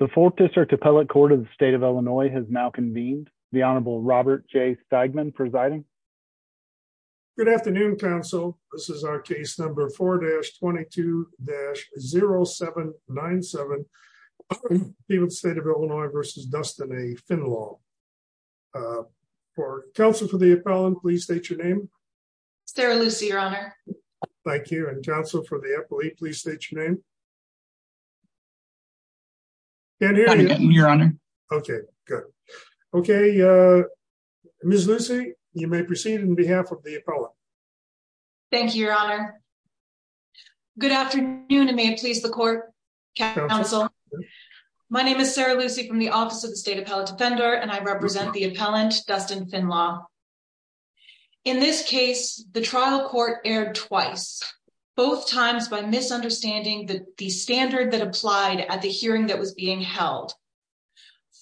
The 4th District Appellate Court of the State of Illinois has now convened. The Honorable Robert J. Steigman presiding. Good afternoon, counsel. This is our case number 4-22-0797. The State of Illinois v. Dustin A. Finlaw. Counsel for the appellant, please state your name. Sarah Lucy, your honor. Thank you. And counsel for the appellate, please state your name. Your honor. Okay, good. Okay, Ms. Lucy, you may proceed on behalf of the appellant. Thank you, your honor. Good afternoon, and may it please the court, counsel. My name is Sarah Lucy from the Office of the State Appellate Defender, and I represent the appellant, Dustin Finlaw. In this case, the trial court erred twice, both times by misunderstanding the standard that applied at the hearing that was being held.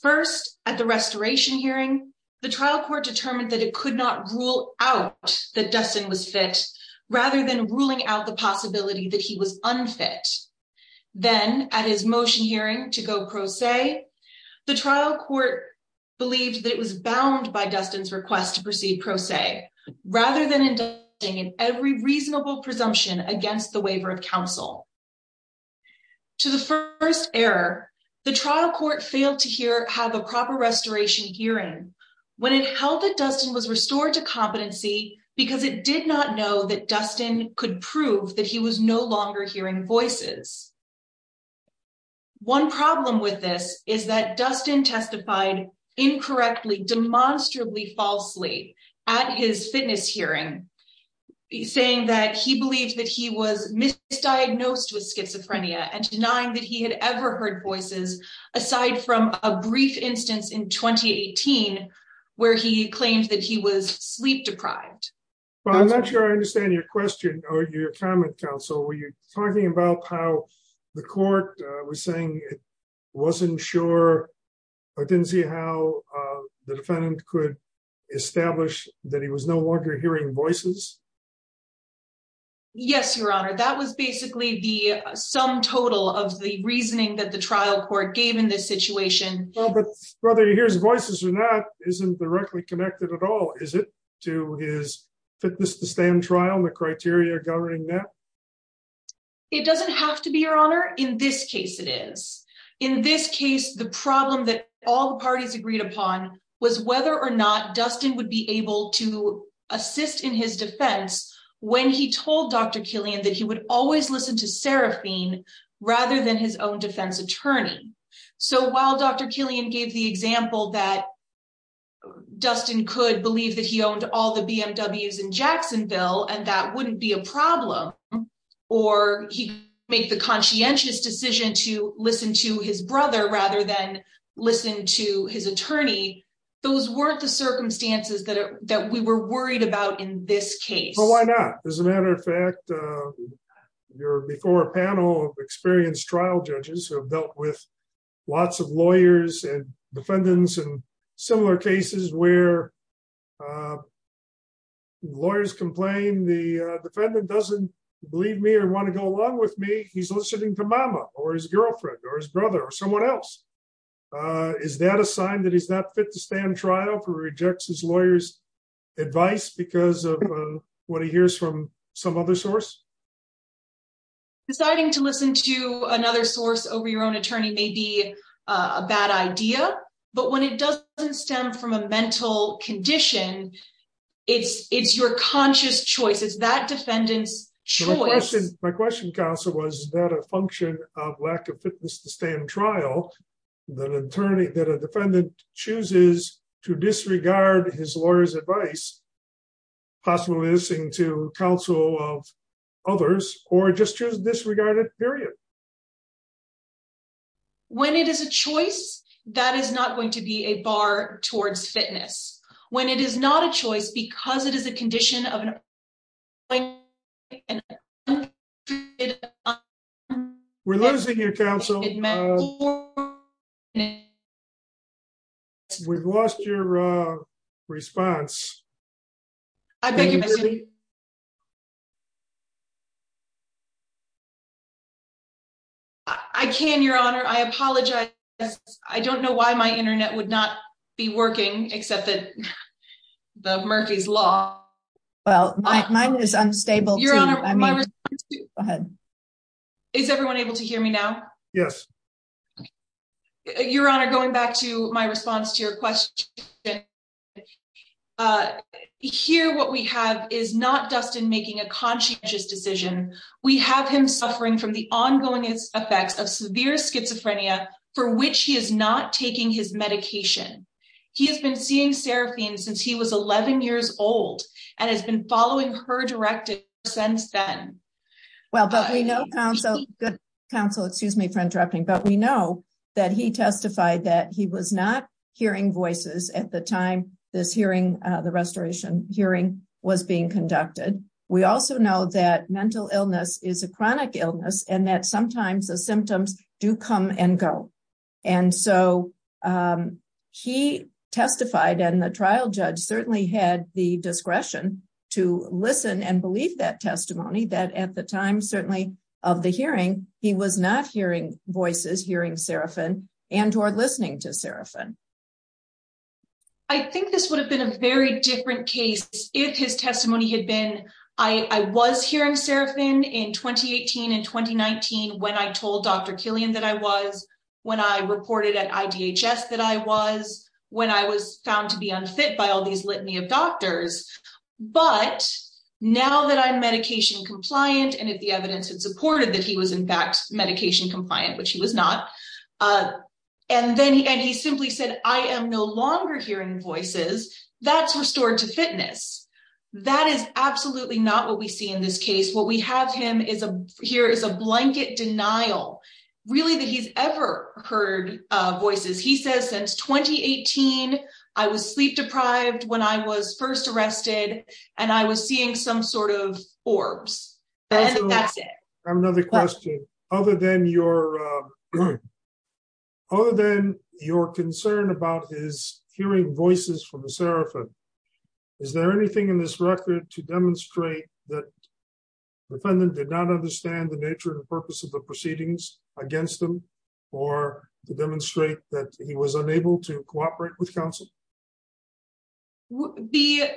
First, at the restoration hearing, the trial court determined that it could not rule out that Dustin was fit, rather than ruling out the possibility that he was unfit. Then, at his motion hearing to go pro se, the trial court believed that it was bound by Dustin's request to proceed pro se, rather than endorsing every reasonable presumption against the waiver of counsel. To the first error, the trial court failed to have a proper restoration hearing when it held that Dustin was restored to competency because it did not know that Dustin could prove that he was no longer hearing voices. One problem with this is that Dustin testified incorrectly, demonstrably falsely at his fitness hearing, saying that he believed that he was misdiagnosed with schizophrenia and denying that he had ever heard voices, aside from a brief instance in 2018, where he claimed that he was sleep deprived. Well, I'm not sure I understand your question, or your comment, counsel. Were you talking about how the court was saying it wasn't sure, or didn't see how the defendant could establish that he was no longer hearing voices? Yes, Your Honor. That was basically the sum total of the reasoning that the trial court gave in this situation. Well, but whether he hears voices or not isn't directly connected at all, is it, to his fitness to stand trial and the criteria governing that? It doesn't have to be, Your Honor. In this case, it is. In this case, the problem that all the parties agreed upon was whether or not Dustin would be able to assist in his defense when he told Dr. Killian that he would always listen to Seraphine rather than his own defense attorney. So while Dr. Killian gave the example that Dustin could believe that he owned all the BMWs in Jacksonville and that wouldn't be a problem, or he could make the conscientious decision to listen to his brother rather than listen to his attorney, those weren't the circumstances that we were worried about in this case. Well, why not? As a matter of fact, your before panel of experienced trial judges have dealt with lots of lawyers and defendants in similar cases where lawyers complain the defendant doesn't believe me or want to go along with me. He's listening to mama or his girlfriend or his brother or someone else. Is that a sign that he's not fit to stand trial for rejects his lawyer's advice because of what he hears from some other source? Deciding to listen to another source over your own attorney may be a bad idea, but when it doesn't stem from a mental condition, it's your conscious choice. It's that defendant's choice. My question, counsel, was that a function of lack of fitness to stand trial, that attorney, that a defendant chooses to disregard his lawyer's advice, possibly listening to counsel of others, or just choose disregarded, period. When it is a choice, that is not going to be a bar towards fitness. When it is not a choice, because it is a condition of. We're losing your counsel. We've lost your response. I beg your pardon. I can your honor. I apologize. I don't know why my Internet would not be working except that the Murphy's law. Well, mine is unstable. Is everyone able to hear me now? Yes. Your honor, going back to my response to your question. Here, what we have is not Dustin making a conscious decision. We have him suffering from the ongoing effects of severe schizophrenia for which he is not taking his medication. He has been seeing seraphine since he was 11 years old and has been following her directed since then. Well, but we know counsel good counsel. Excuse me for interrupting, but we know that he testified that he was not hearing voices at the time. This hearing the restoration hearing was being conducted. We also know that mental illness is a chronic illness and that sometimes the symptoms do come and go. And so he testified and the trial judge certainly had the discretion to listen and believe that testimony that at the time, certainly of the hearing, he was not hearing voices hearing seraphin and or listening to seraphin. I think this would have been a very different case if his testimony had been. I was hearing seraphin in 2018 and 2019 when I told Dr Killian that I was when I reported at IDHS that I was when I was found to be unfit by all these litany of doctors. But now that I'm medication compliant, and if the evidence had supported that he was, in fact, medication compliant, which he was not. And then he and he simply said, I am no longer hearing voices that's restored to fitness. That is absolutely not what we see in this case. What we have him is a here is a blanket denial. Really that he's ever heard voices he says since 2018 I was sleep deprived when I was first arrested, and I was seeing some sort of Forbes. Another question. Other than your other than your concern about his hearing voices from the seraphim. Is there anything in this record to demonstrate that defendant did not understand the nature and purpose of the proceedings against them, or demonstrate that he was unable to cooperate with counsel. The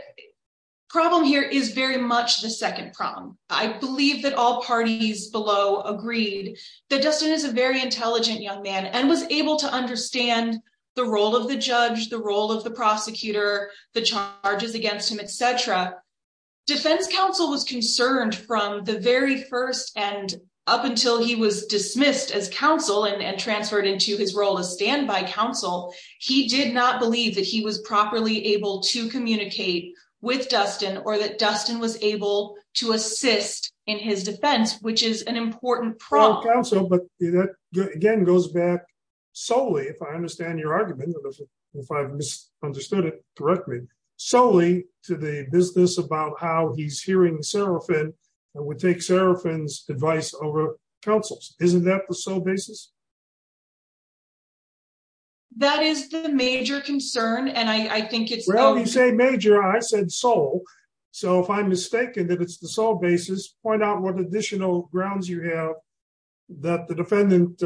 problem here is very much the second problem. I believe that all parties below agreed that Dustin is a very intelligent young man and was able to understand the role of the judge the role of the prosecutor, the charges against him, etc. Defense counsel was concerned from the very first and up until he was dismissed as counsel and transferred into his role as standby counsel, he did not believe that he was properly able to communicate with Dustin or that Dustin was able to assist in his defense, which is an important problem. Again goes back solely if I understand your argument, if I understood it correctly, solely to the business about how he's hearing seraphim would take seraphim advice over councils, isn't that the sole basis. That is the major concern and I think it's well you say major I said soul. So if I'm mistaken that it's the sole basis point out what additional grounds you have that the defendant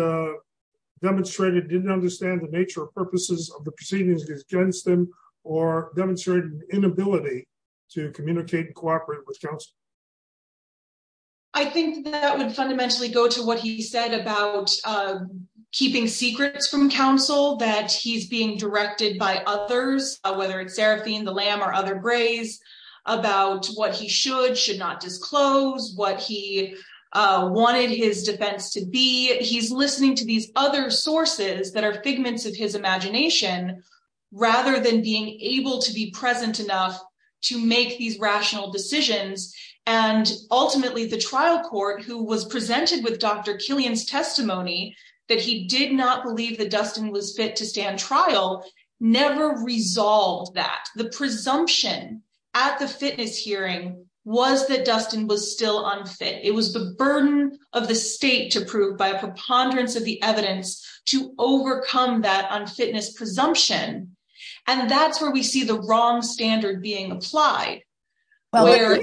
demonstrated didn't understand the nature of purposes of the proceedings against them, or demonstrate an inability to communicate and cooperate with council. I think that would fundamentally go to what he said about keeping secrets from counsel that he's being directed by others, whether it's seraphim the lamb or other grays about what he should should not disclose what he wanted his defense to be he's listening to these other sources that are figments of his imagination. Rather than being able to be present enough to make these rational decisions, and ultimately the trial court who was presented with Dr Killian's testimony that he did not believe that Dustin was fit to stand trial never resolved that the presumption at the fitness hearing was that Dustin was still unfit, it was the burden of the state to prove by a preponderance of the evidence to overcome that on fitness presumption. And that's where we see the wrong standard being applied standards. Well,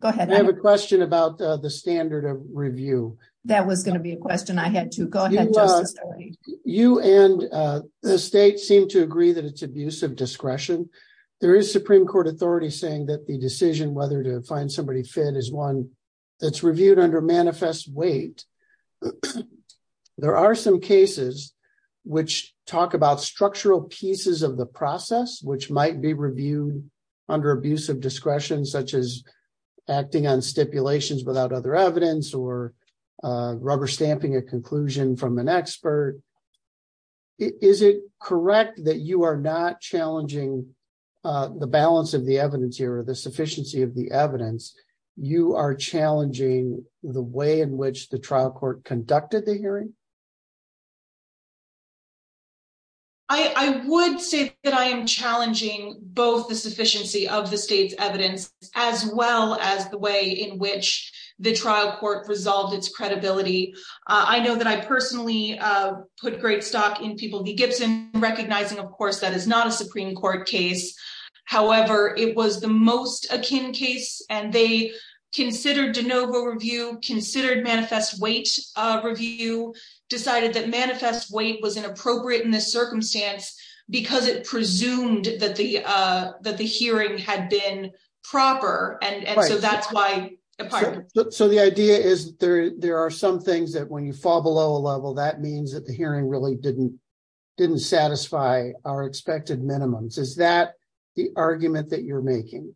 go ahead, I have a question about the standard of review, that was going to be a question I had to go ahead. You and the state seem to agree that it's abusive discretion. There is Supreme Court authority saying that the decision whether to find somebody fit is one that's reviewed under manifest weight. There are some cases which talk about structural pieces of the process which might be reviewed under abusive discretion such as acting on stipulations without other evidence or rubber stamping a conclusion from an expert. Is it correct that you are not challenging the balance of the evidence here the sufficiency of the evidence, you are challenging the way in which the trial court conducted the hearing. I would say that I am challenging, both the sufficiency of the state's evidence, as well as the way in which the trial court resolved its credibility. I know that I personally put great stock in people be Gibson, recognizing of course that is not a Supreme Court case. However, it was the most akin case, and they considered de novo review considered manifest weight review decided that manifest weight was inappropriate in this circumstance, because it presumed that the, that the hearing had been proper and so that's why. So the idea is there, there are some things that when you fall below a level that means that the hearing really didn't didn't satisfy our expected minimums is that the argument that you're making.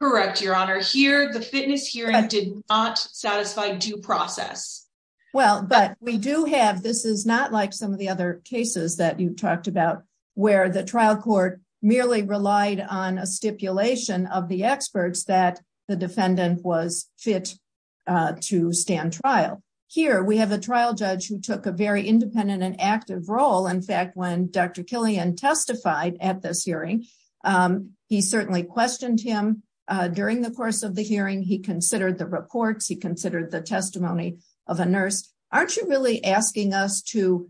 Correct Your Honor here the fitness here and did not satisfy due process. Well, but we do have this is not like some of the other cases that you've talked about where the trial court merely relied on a stipulation of the experts that the defendant was fit to stand trial. Here we have a trial judge who took a very independent and active role in fact when Dr Killian testified at this hearing. He certainly questioned him during the course of the hearing he considered the reports he considered the testimony of a nurse, aren't you really asking us to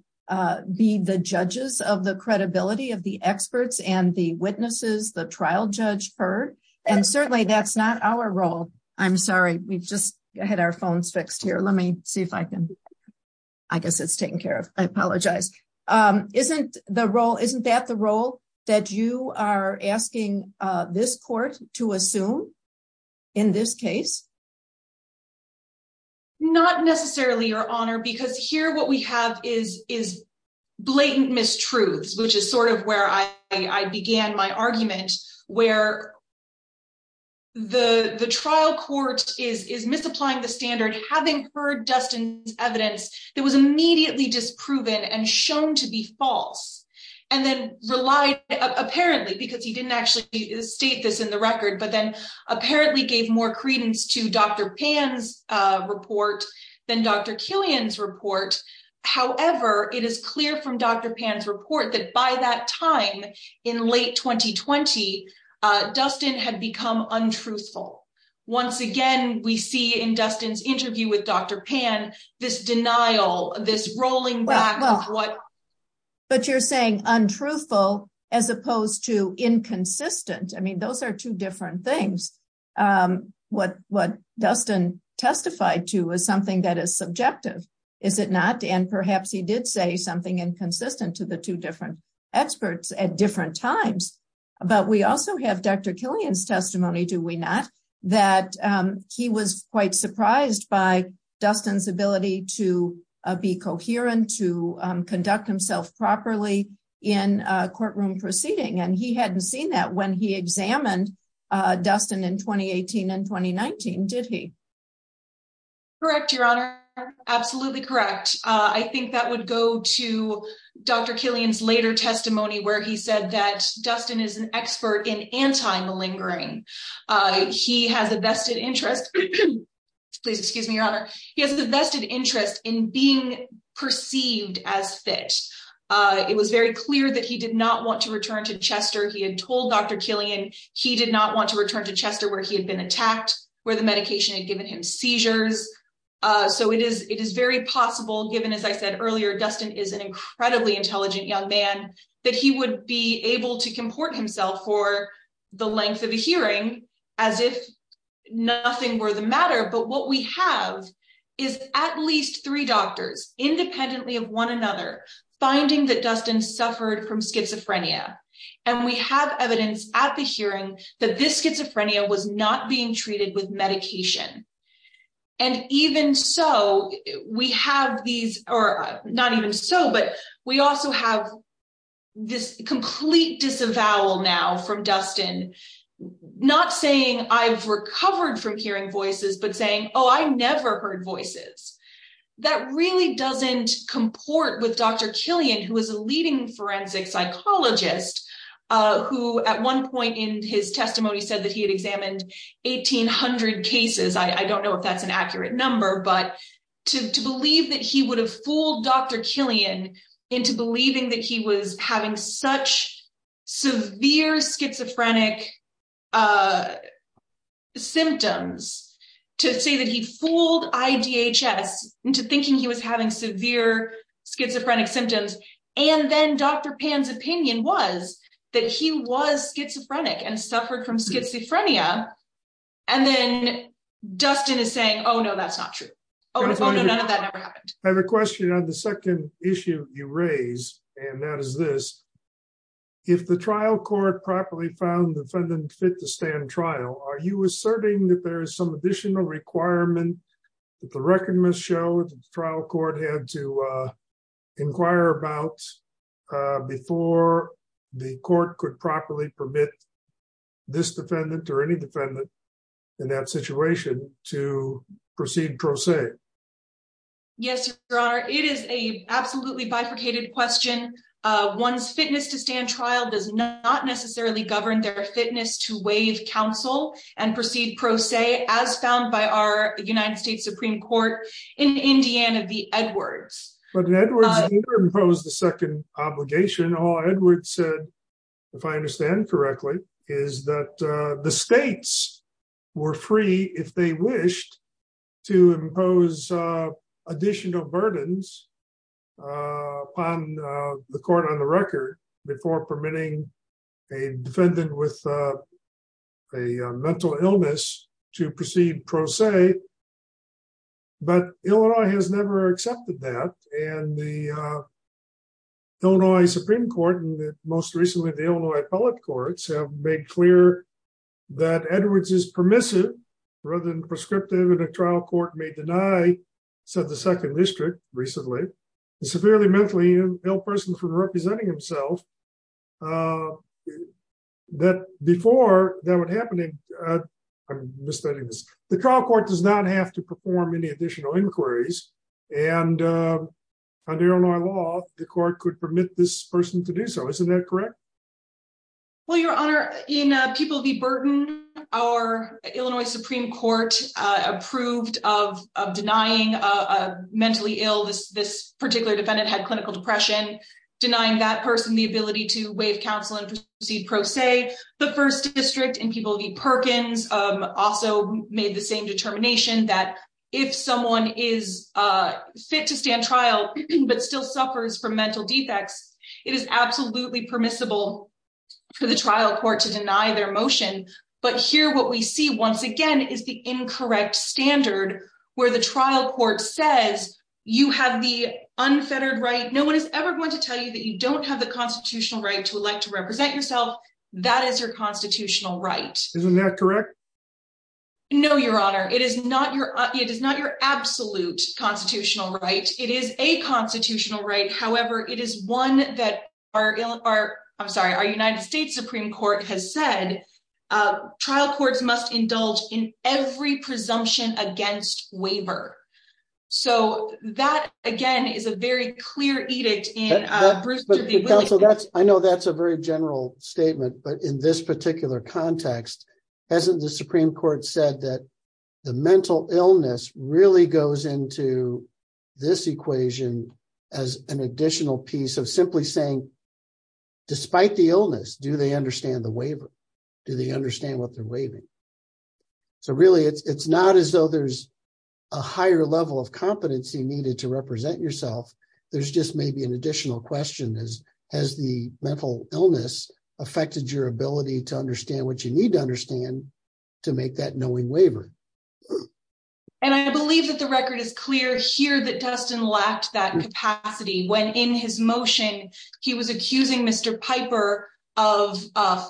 be the judges of the credibility of the experts and the witnesses the trial judge her. And certainly that's not our role. I'm sorry, we've just had our phones fixed here. Let me see if I can. I guess it's taken care of. I apologize. Isn't the role isn't that the role that you are asking this court to assume. In this case, not necessarily Your Honor because here what we have is, is blatant mistruths, which is sort of where I began my argument, where the the trial court is is misapplying the standard having heard Dustin's evidence. There was immediately disproven and shown to be false, and then relied, apparently because he didn't actually state this in the record but then apparently gave more credence to Dr pans report, then Dr Killian's report. However, it is clear from Dr pans report that by that time in late 2020 Dustin had become untruthful. Once again, we see in Dustin's interview with Dr pan this denial, this rolling back. But you're saying untruthful, as opposed to inconsistent I mean those are two different things. What what Dustin testified to is something that is subjective. Is it not, and perhaps he did say something inconsistent to the two different experts at different times. But we also have Dr Killian's testimony, do we not, that he was quite surprised by Dustin's ability to be coherent to conduct himself properly in courtroom proceeding and he hadn't seen that when he examined Dustin in 2018 and 2019 did he. Correct Your Honor. Absolutely correct. I think that would go to Dr Killian's later testimony where he said that Dustin is an expert in anti malingering. He has a vested interest in being perceived as fit. It was very clear that he did not want to return to Chester he had told Dr Killian, he did not want to return to Chester where he had been attacked, where the medication and given him seizures. So it is, it is very possible given as I said earlier, Dustin is an incredibly intelligent young man, that he would be able to comport himself for the length of the hearing, as if nothing were the matter but what we have is at least three doctors, independently of one another, finding that Dustin suffered from schizophrenia, and we have evidence at the hearing that this schizophrenia was not being treated with medication. And even so, we have these are not even so but we also have this complete disavowal now from Dustin, not saying I've recovered from hearing voices but saying, Oh, I never heard voices. That really doesn't comport with Dr Killian who was a leading forensic psychologist, who at one point in his testimony said that he had examined 1800 cases I don't know if that's an accurate number but to believe that he would have fooled Dr Killian into believing that he was having such severe schizophrenic symptoms to say that he fooled IDHS into thinking he was having severe schizophrenic symptoms. And then Dr Pam's opinion was that he was schizophrenic and suffered from schizophrenia. And then, Dustin is saying oh no that's not true. I have a question on the second issue, you raise, and that is this. If the trial court properly found defendant fit to stand trial, are you asserting that there is some additional requirement that the record must show trial court had to inquire about before the court could properly permit this defendant or any defendant in that situation to proceed pro se. Yes, Your Honor, it is a absolutely bifurcated question. One's fitness to stand trial does not necessarily govern their fitness to waive counsel and proceed pro se as found by our United States Supreme Court in Indiana v. Edwards. But Edwards didn't impose the second obligation, all Edwards said, if I understand correctly, is that the states were free if they wished to impose additional burdens on the court on the record before permitting a defendant with a mental illness to proceed pro se. But Illinois has never accepted that, and the Illinois Supreme Court and most recently the Illinois appellate courts have made clear that Edwards is permissive rather than prescriptive in a trial court may deny, said the second district, recently, severely mentally ill person from representing himself. That before that would happen. I'm misspending this, the trial court does not have to perform any additional inquiries and under Illinois law, the court could permit this person to do so isn't that correct. Well, Your Honor, in people the burden, our Illinois Supreme Court approved of denying a mentally ill this this particular defendant had clinical depression, denying that person the ability to waive counsel and proceed pro se. The first district and people the Perkins also made the same determination that if someone is fit to stand trial, but still suffers from mental defects, it is absolutely permissible for the trial court to deny their motion. But here what we see once again is the incorrect standard, where the trial court says you have the unfettered right no one is ever going to tell you that you don't have the constitutional right to elect to represent yourself. That is your constitutional right. Isn't that correct. No, Your Honor, it is not your, it is not your absolute constitutional right. It is a constitutional right. However, it is one that are, I'm sorry, our United States Supreme Court has said trial courts must indulge in every presumption against waiver. So that, again, is a very clear edict. I know that's a very general statement, but in this particular context, as the Supreme Court said that the mental illness really goes into this equation as an additional piece of simply saying, despite the illness, do they understand the waiver. Do they understand what they're waiving. So really, it's not as though there's a higher level of competency needed to represent yourself. There's just maybe an additional question is, has the mental illness affected your ability to understand what you need to understand to make that knowing waiver. And I believe that the record is clear here that Dustin lacked that capacity when in his motion, he was accusing Mr. Piper of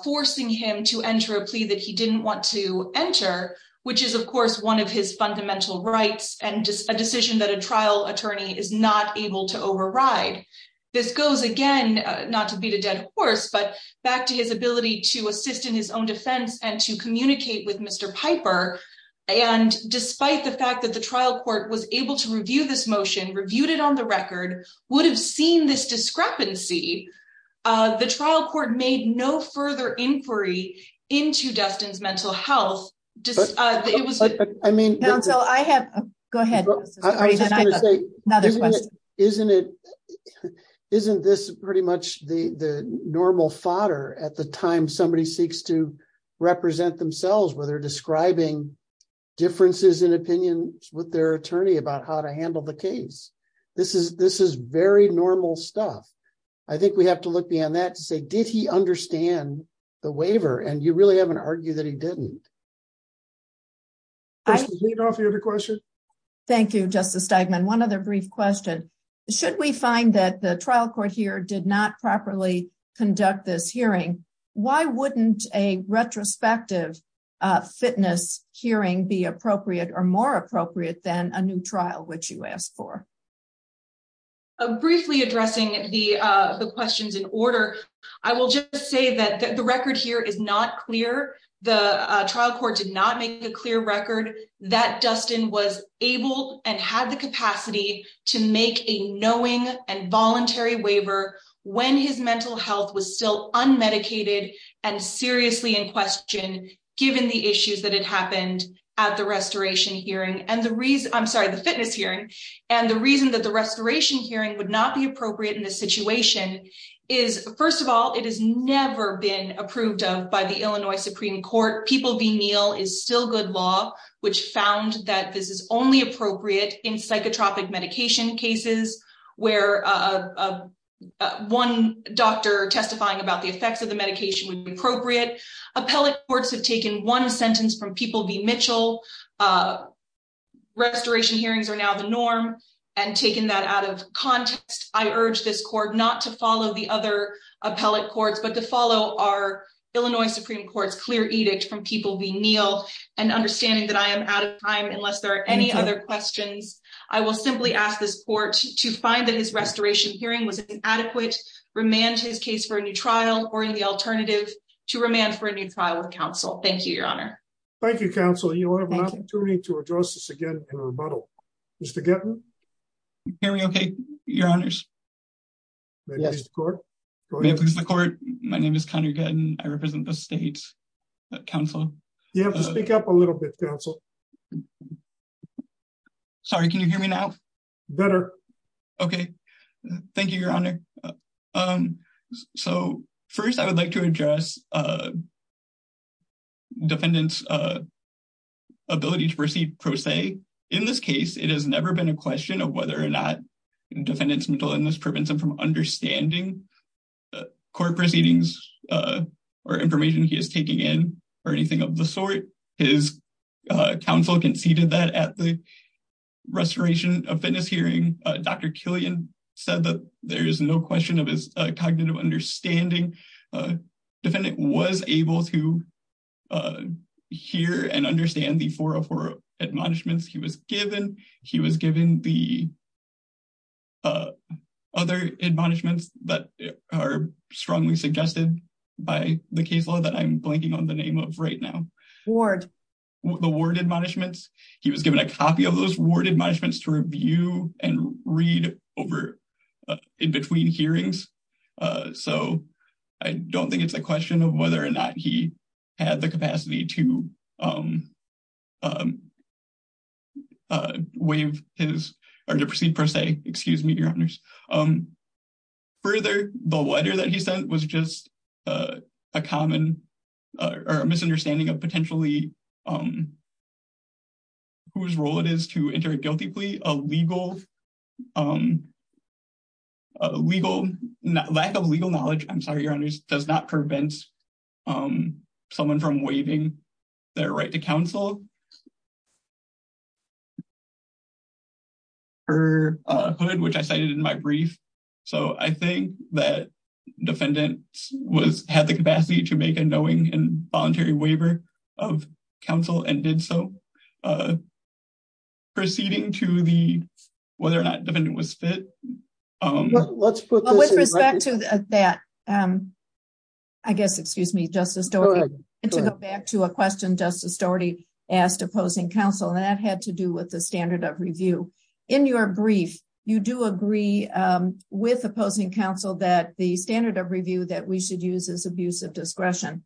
forcing him to enter a plea that he didn't want to enter, which is of course one of his fundamental rights and just a decision that a trial attorney is not able to override. This goes again, not to beat a dead horse, but back to his ability to assist in his own defense and to communicate with Mr. Piper. And despite the fact that the trial court was able to review this motion, reviewed it on the record, would have seen this discrepancy, the trial court made no further inquiry into Dustin's mental health. I mean, I have. Go ahead. Isn't it. Isn't this pretty much the normal fodder at the time somebody seeks to represent themselves whether describing differences in opinions with their attorney about how to handle the case. This is, this is very normal stuff. I think we have to look beyond that to say, did he understand the waiver and you really haven't argued that he didn't. Thank you, Justice Steigman. One other brief question. Should we find that the trial court here did not properly conduct this hearing. Why wouldn't a retrospective fitness hearing be appropriate or more appropriate than a new trial which you asked for. Briefly addressing the questions in order. I will just say that the record here is not clear. The trial court did not make a clear record that Dustin was able and had the capacity to make a knowing and voluntary waiver when his mental health was still unmedicated and seriously in question. Given the issues that had happened at the restoration hearing and the reason I'm sorry the fitness hearing, and the reason that the restoration hearing would not be appropriate in this situation is, first of all, it has never been approved of by the Illinois Supreme Court people be meal is still good law, which found that this is only appropriate in psychotropic medication cases where one doctor testifying about the effects of the medication would be appropriate appellate courts have taken one sentence from people be Mitchell restoration hearings are now the norm, and taking that out of context, I urge this court not to follow the other appellate courts but to follow our Illinois Supreme Court's clear edict from people be Neil, and understanding that I am out of time unless there are any other questions, I will simply ask this court to find that his restoration hearing was an adequate remand his case for a new trial, or in the alternative to remain for a new trial with counsel. Thank you, Your Honor. Thank you, counsel, you will have an opportunity to address this again in a rebuttal. Okay. Your Honors. Yes, the court. The court. My name is kind of good and I represent the state council, you have to speak up a little bit Council. Sorry, can you hear me now. Better. Okay. Thank you, Your Honor. Um, so first I would like to address defendants ability to proceed pro se. In this case, it has never been a question of whether or not defendants middle and this prevents them from understanding court proceedings or information he is taking in, or anything of the sort. His counsel conceded that at the restoration of fitness hearing Dr Killian said that there is no question of his cognitive understanding defendant was able to hear and understand the 404 admonishments he was given. He was given the other admonishments that are strongly suggested by the case law that I'm blanking on the name of right now. Ward. The word admonishments. He was given a copy of those word admonishments to review and read over in between hearings. So, I don't think it's a question of whether or not he had the capacity to wave his or to proceed per se, excuse me, Your Honors. Further, the letter that he sent was just a common or misunderstanding of potentially whose role it is to enter a guilty plea, a legal, a legal, lack of legal knowledge, I'm sorry, Your Honors, does not prevent someone from waiving their right to counsel. Her hood which I cited in my brief. So I think that defendants was had the capacity to make a knowing and voluntary waiver of counsel and did so. Proceeding to the, whether or not the defendant was fit. Let's put with respect to that. I guess excuse me Justice Doherty. To go back to a question Justice Doherty asked opposing counsel and that had to do with the standard of review. In your brief, you do agree with opposing counsel that the standard of review that we should use as abuse of discretion.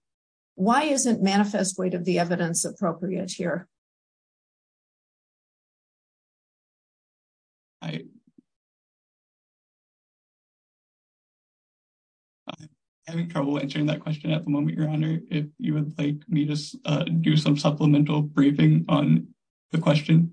Why isn't manifest weight of the evidence appropriate here. I having trouble answering that question at the moment, Your Honor, if you would like me to do some supplemental briefing on the question.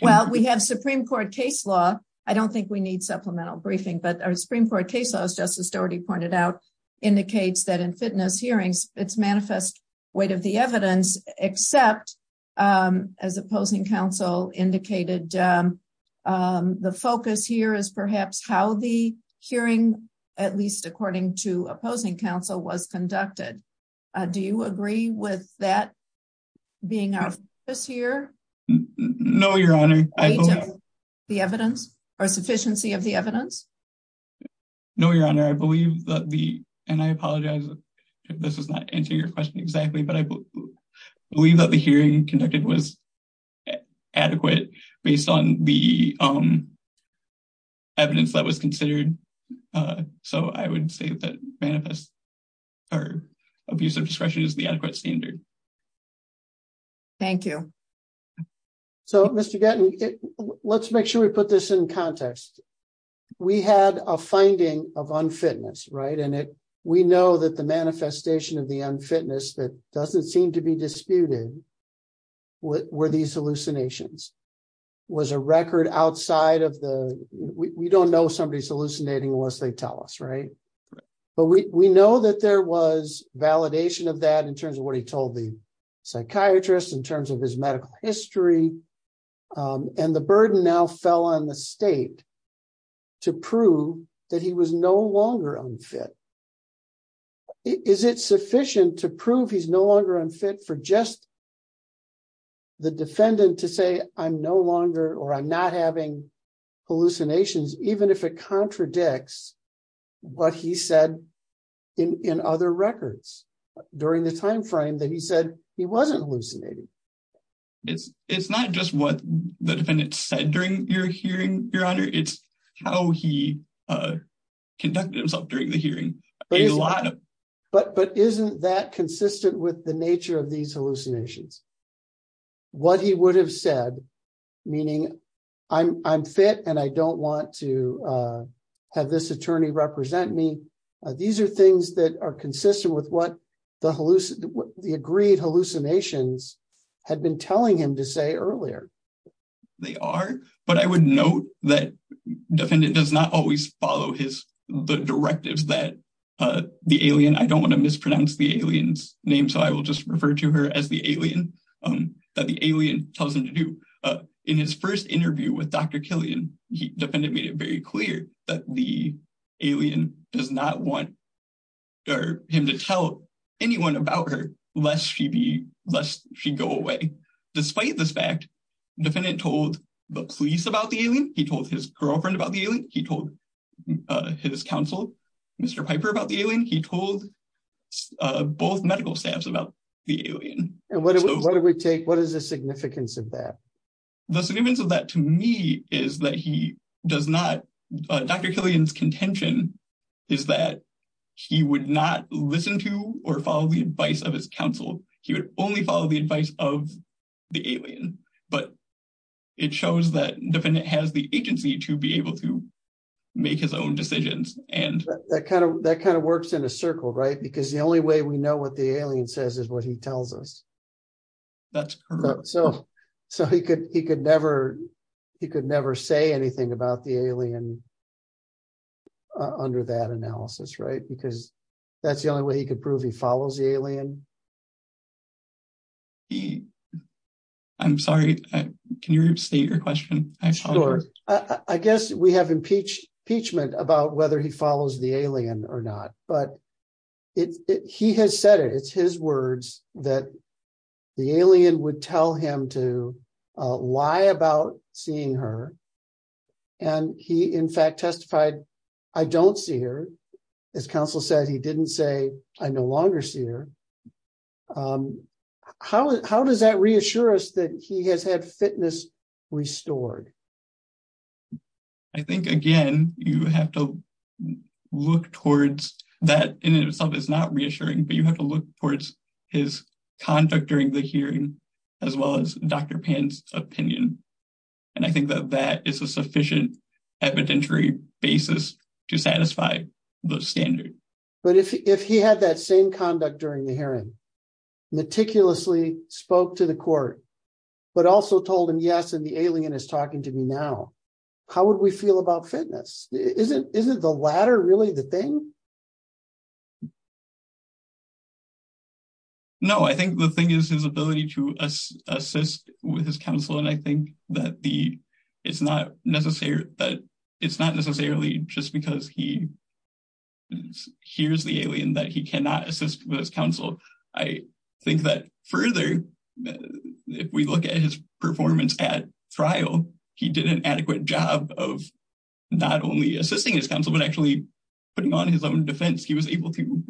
Well, we have Supreme Court case law. I don't think we need supplemental briefing but our Supreme Court case as Justice Doherty pointed out, indicates that in fitness hearings, it's manifest weight of the evidence, except as opposing counsel indicated. The focus here is perhaps how the hearing, at least according to opposing counsel was conducted. Do you agree with that being this year. No, Your Honor. The evidence or sufficiency of the evidence. No, Your Honor, I believe that the, and I apologize if this is not answer your question exactly but I believe that the hearing conducted was adequate, based on the evidence that was considered. So I would say that manifest or abuse of discretion is the adequate standard. Thank you. So, Mr. Gatton, let's make sure we put this in context. We had a finding of unfitness right and it. We know that the manifestation of the unfitness that doesn't seem to be disputed. Were these hallucinations was a record outside of the, we don't know somebody's hallucinating was they tell us right. But we know that there was validation of that in terms of what he told the psychiatrist in terms of his medical history. And the burden now fell on the state to prove that he was no longer unfit. Is it sufficient to prove he's no longer unfit for just the defendant to say, I'm no longer or I'm not having hallucinations, even if it contradicts what he said in other records during the timeframe that he said he wasn't hallucinating. It's, it's not just what the defendant said during your hearing your honor it's how he conducted himself during the hearing a lot of, but but isn't that consistent with the nature of these hallucinations. What he would have said, meaning, I'm fit and I don't want to have this attorney represent me. These are things that are consistent with what the hallucinate the agreed hallucinations had been telling him to say earlier. They are, but I would note that defendant does not always follow his the directives that the alien I don't want to mispronounce the aliens name so I will just refer to her as the alien that the alien tells him to do in his first interview with Dr. He definitely made it very clear that the alien does not want him to tell anyone about her less she be less she go away. Despite this fact, defendant told the police about the alien, he told his girlfriend about the alien, he told his counsel, Mr. Piper about the alien he told both medical staffs about the alien. What do we take what is the significance of that. The significance of that to me is that he does not Dr. Killian's contention is that he would not listen to or follow the advice of his counsel, he would only follow the advice of the alien, but it shows that defendant has the agency to be able to make his own decisions, and that kind of that kind of works in a circle right because the only way we know what the alien says is what he tells us. That's so, so he could he could never, he could never say anything about the alien. Under that analysis right because that's the only way he could prove he follows the alien. He. I'm sorry. Can you state your question. I guess we have impeach impeachment about whether he follows the alien or not, but it's, he has said it it's his words that the alien would tell him to lie about seeing her. And he in fact testified. I don't see her as counsel said he didn't say, I no longer see her. How, how does that reassure us that he has had fitness restored. I think, again, you have to look towards that in itself is not reassuring but you have to look towards his conduct during the hearing, as well as Dr pants opinion. And I think that that is a sufficient evidentiary basis to satisfy the standard. But if he had that same conduct during the hearing meticulously spoke to the court. But also told him yes and the alien is talking to me now. How would we feel about fitness, isn't, isn't the latter really the thing. No, I think the thing is his ability to assist with his counsel and I think that the, it's not necessary, but it's not necessarily just because he hears the alien that he cannot assist with his counsel. I think that further. If we look at his performance at trial, he did an adequate job of not only assisting his counsel but actually putting on his own defense he was able to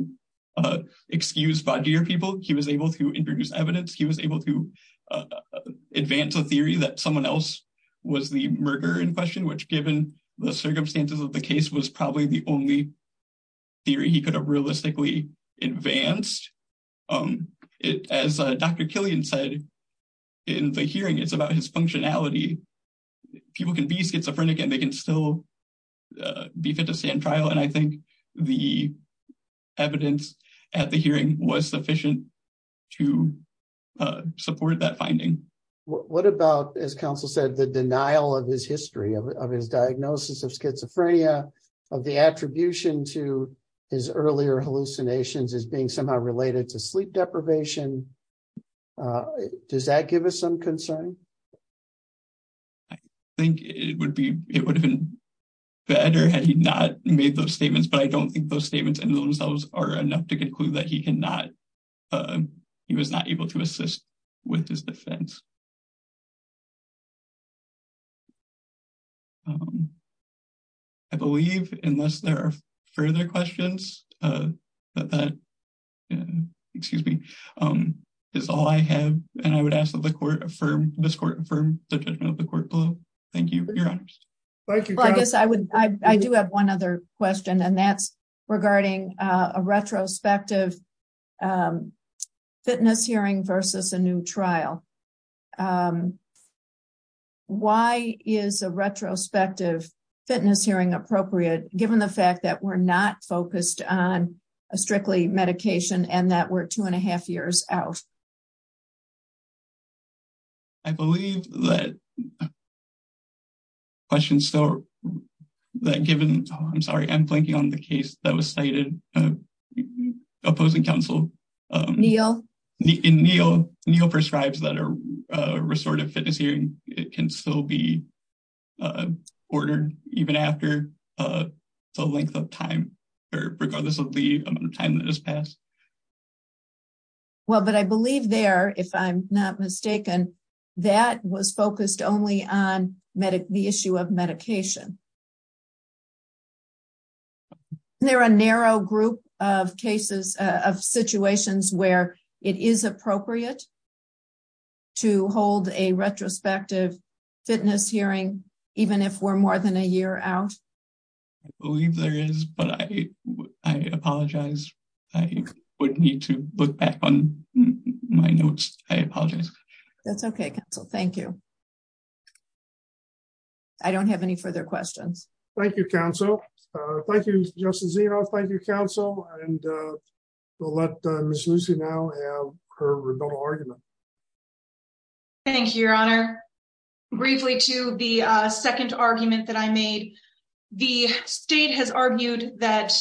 excuse body or people he was able to introduce evidence he was able to advance a theory that someone else was the murder in question which given the circumstances of the case was probably the only theory he could have realistically advanced it as Dr Killian said in the hearing it's about his functionality. People can be schizophrenic and they can still be fit to stand trial and I think the evidence at the hearing was sufficient to support that finding. What about as counsel said the denial of his history of his diagnosis of schizophrenia of the attribution to his earlier hallucinations is being somehow related to sleep deprivation. Does that give us some concern. I think it would be, it would have been better had he not made those statements but I don't think those statements and those those are enough to conclude that he cannot. He was not able to assist with his defense. I believe, unless there are further questions. Excuse me, is all I have, and I would ask that the court affirm this court from the judgment of the court below. Thank you. I guess I would, I do have one other question and that's regarding a retrospective fitness hearing versus a new trial. Why is a retrospective fitness hearing appropriate, given the fact that we're not focused on a strictly medication and that were two and a half years out. I believe that question so that given, I'm sorry I'm blanking on the case that was stated opposing counsel. Neil Neil Neil prescribes that are restorative fitness hearing, it can still be ordered, even after the length of time, regardless of the amount of time that has passed. Well, but I believe there, if I'm not mistaken, that was focused only on medic the issue of medication. There are a narrow group of cases of situations where it is appropriate to hold a retrospective fitness hearing, even if we're more than a year out. Believe there is, but I apologize. I would need to look back on my notes, I apologize. That's okay. So thank you. I don't have any further questions. Thank you, Council. Thank you, Justin zero. Thank you, Council, and we'll let Miss Lucy now her argument. Thank you, your honor. Briefly to the second argument that I made. The state has argued that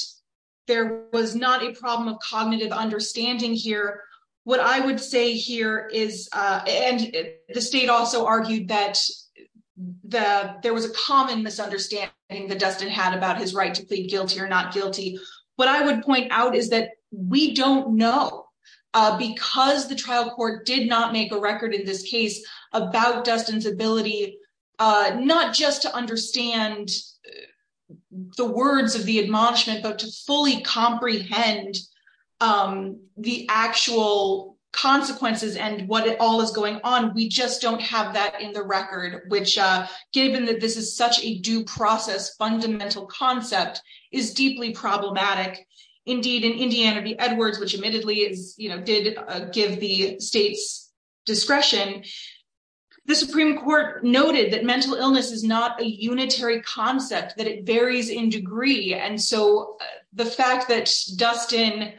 there was not a problem of cognitive understanding here. What I would say here is, and the state also argued that the, there was a common misunderstanding that Dustin had about his right to plead guilty or not guilty. What I would point out is that we don't know, because the trial court did not make a record in this case about Dustin's ability, not just to understand the words of the admonishment, but to fully comprehend the actual consequences. And what all is going on. We just don't have that in the record, which given that this is such a due process fundamental concept is deeply problematic. Indeed, in Indiana Edwards, which admittedly is, you know, did give the state's discretion. The Supreme Court noted that mental illness is not a unitary concept that it varies in degree and so the fact that Dustin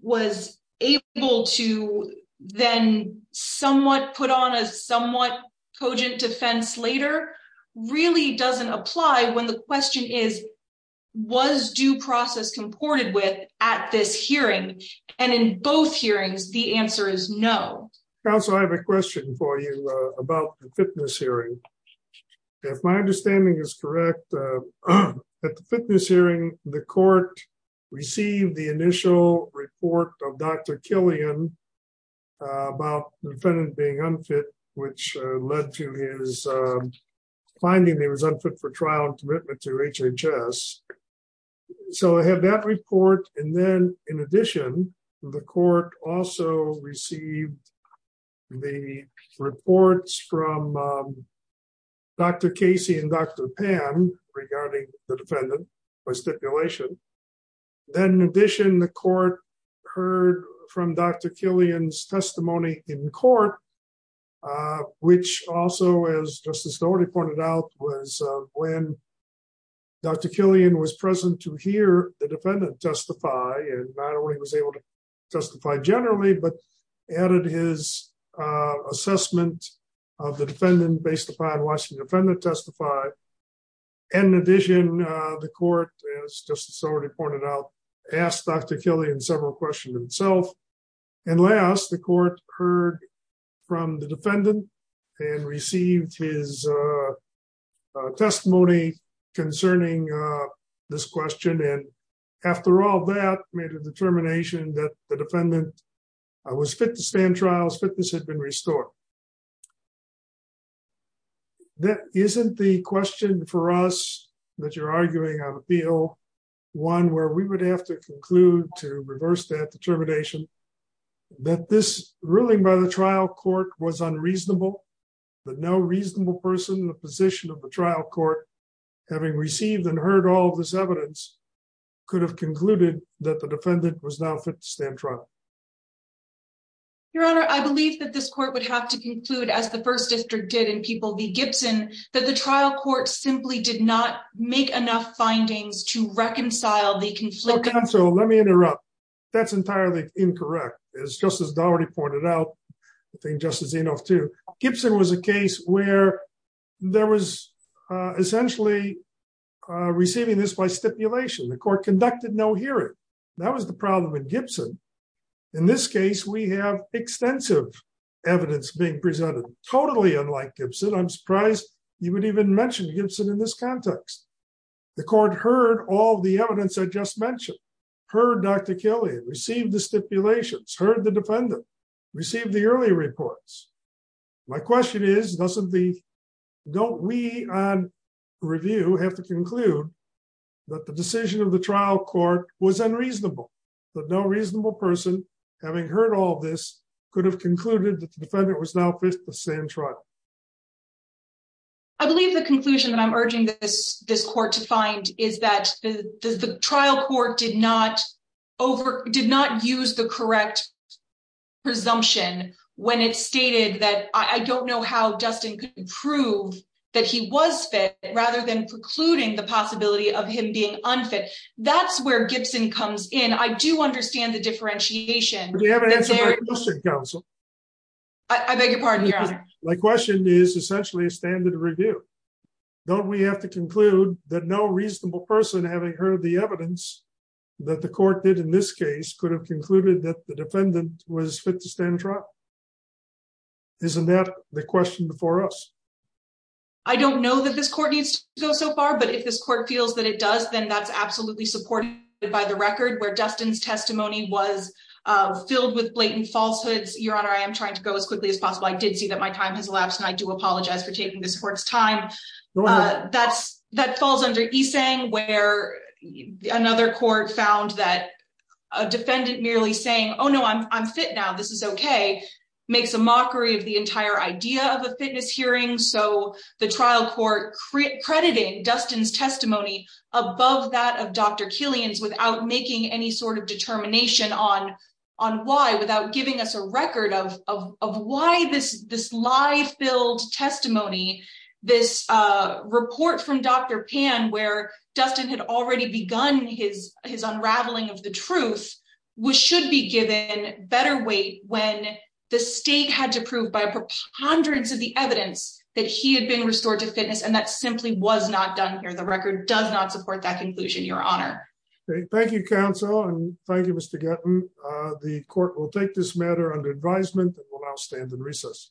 was able to then somewhat put on a somewhat cogent defense later really doesn't apply when the question is, was due process at this hearing, and in both hearings, the answer is no. Also, I have a question for you about the fitness hearing. If my understanding is correct. At the fitness hearing, the court received the initial report of Dr. Killian about the defendant being unfit, which led to his finding he was unfit for trial and commitment to HHS. So I have that report. And then, in addition, the court also received the reports from Dr. Casey and Dr. Pam regarding the defendant by stipulation. Then, in addition, the court heard from Dr. Killian's testimony in court, which also as Justice Dougherty pointed out was when Dr. Killian was present to hear the defendant testify and not only was able to testify generally but added his assessment of the defendant based upon what the defendant testified. And in addition, the court, as Justice Dougherty pointed out, asked Dr. Killian several questions himself. And last, the court heard from the defendant and received his testimony concerning this question and after all that made a determination that the defendant was fit to stand trials fitness had been restored. That isn't the question for us that you're arguing on appeal, one where we would have to conclude to reverse that determination that this ruling by the trial court was unreasonable, but no reasonable person the position of the trial court, having received and heard all this evidence could have concluded that the defendant was now fit to stand trial. Your Honor, I believe that this court would have to conclude as the first district did and people be Gibson, that the trial court simply did not make enough findings to reconcile the conflict. So let me interrupt. That's entirely incorrect. It's just as Dougherty pointed out, I think justice enough to Gibson was a case where there was essentially receiving this by stipulation the court conducted no hearing. That was the problem with Gibson. In this case, we have extensive evidence being presented totally unlike Gibson I'm surprised you would even mentioned Gibson in this context, the court heard all the evidence I just mentioned, heard Dr. Killian received the stipulations heard the defendant received the early reports. My question is, doesn't the don't we review have to conclude that the decision of the trial court was unreasonable, but no reasonable person, having heard all this could have concluded that the defendant was now fit to stand trial. I believe the conclusion that I'm urging this, this court to find is that the trial court did not over did not use the correct presumption, when it stated that I don't know how Dustin prove that he was fit, rather than precluding the possibility of him being unfit. That's where Gibson comes in I do understand the differentiation. Council. I beg your pardon. My question is essentially a standard review. Don't we have to conclude that no reasonable person having heard the evidence that the court did in this case could have concluded that the defendant was fit to stand trial. Isn't that the question before us. I don't know that this court needs to go so far but if this court feels that it does then that's absolutely supported by the record where Dustin's testimony was filled with blatant falsehoods, your honor I am trying to go as quickly as possible I did see that my time has elapsed and I do apologize for taking the sports time. That's that falls under a saying where another court found that a defendant merely saying, Oh no I'm fit now this is okay, makes a mockery of the entire idea of a fitness hearing so the trial court credit credit Dustin's testimony, above that of Dr Killian's on why without giving us a record of, of why this this live build testimony. This report from Dr pan where Dustin had already begun his, his unraveling of the truth was should be given better weight when the state had to prove by hundreds of the evidence that he had been restored to fitness and that simply was not done here the record does not support that conclusion your honor. Thank you counsel and thank you Mr. The court will take this matter under advisement will now stand in recess.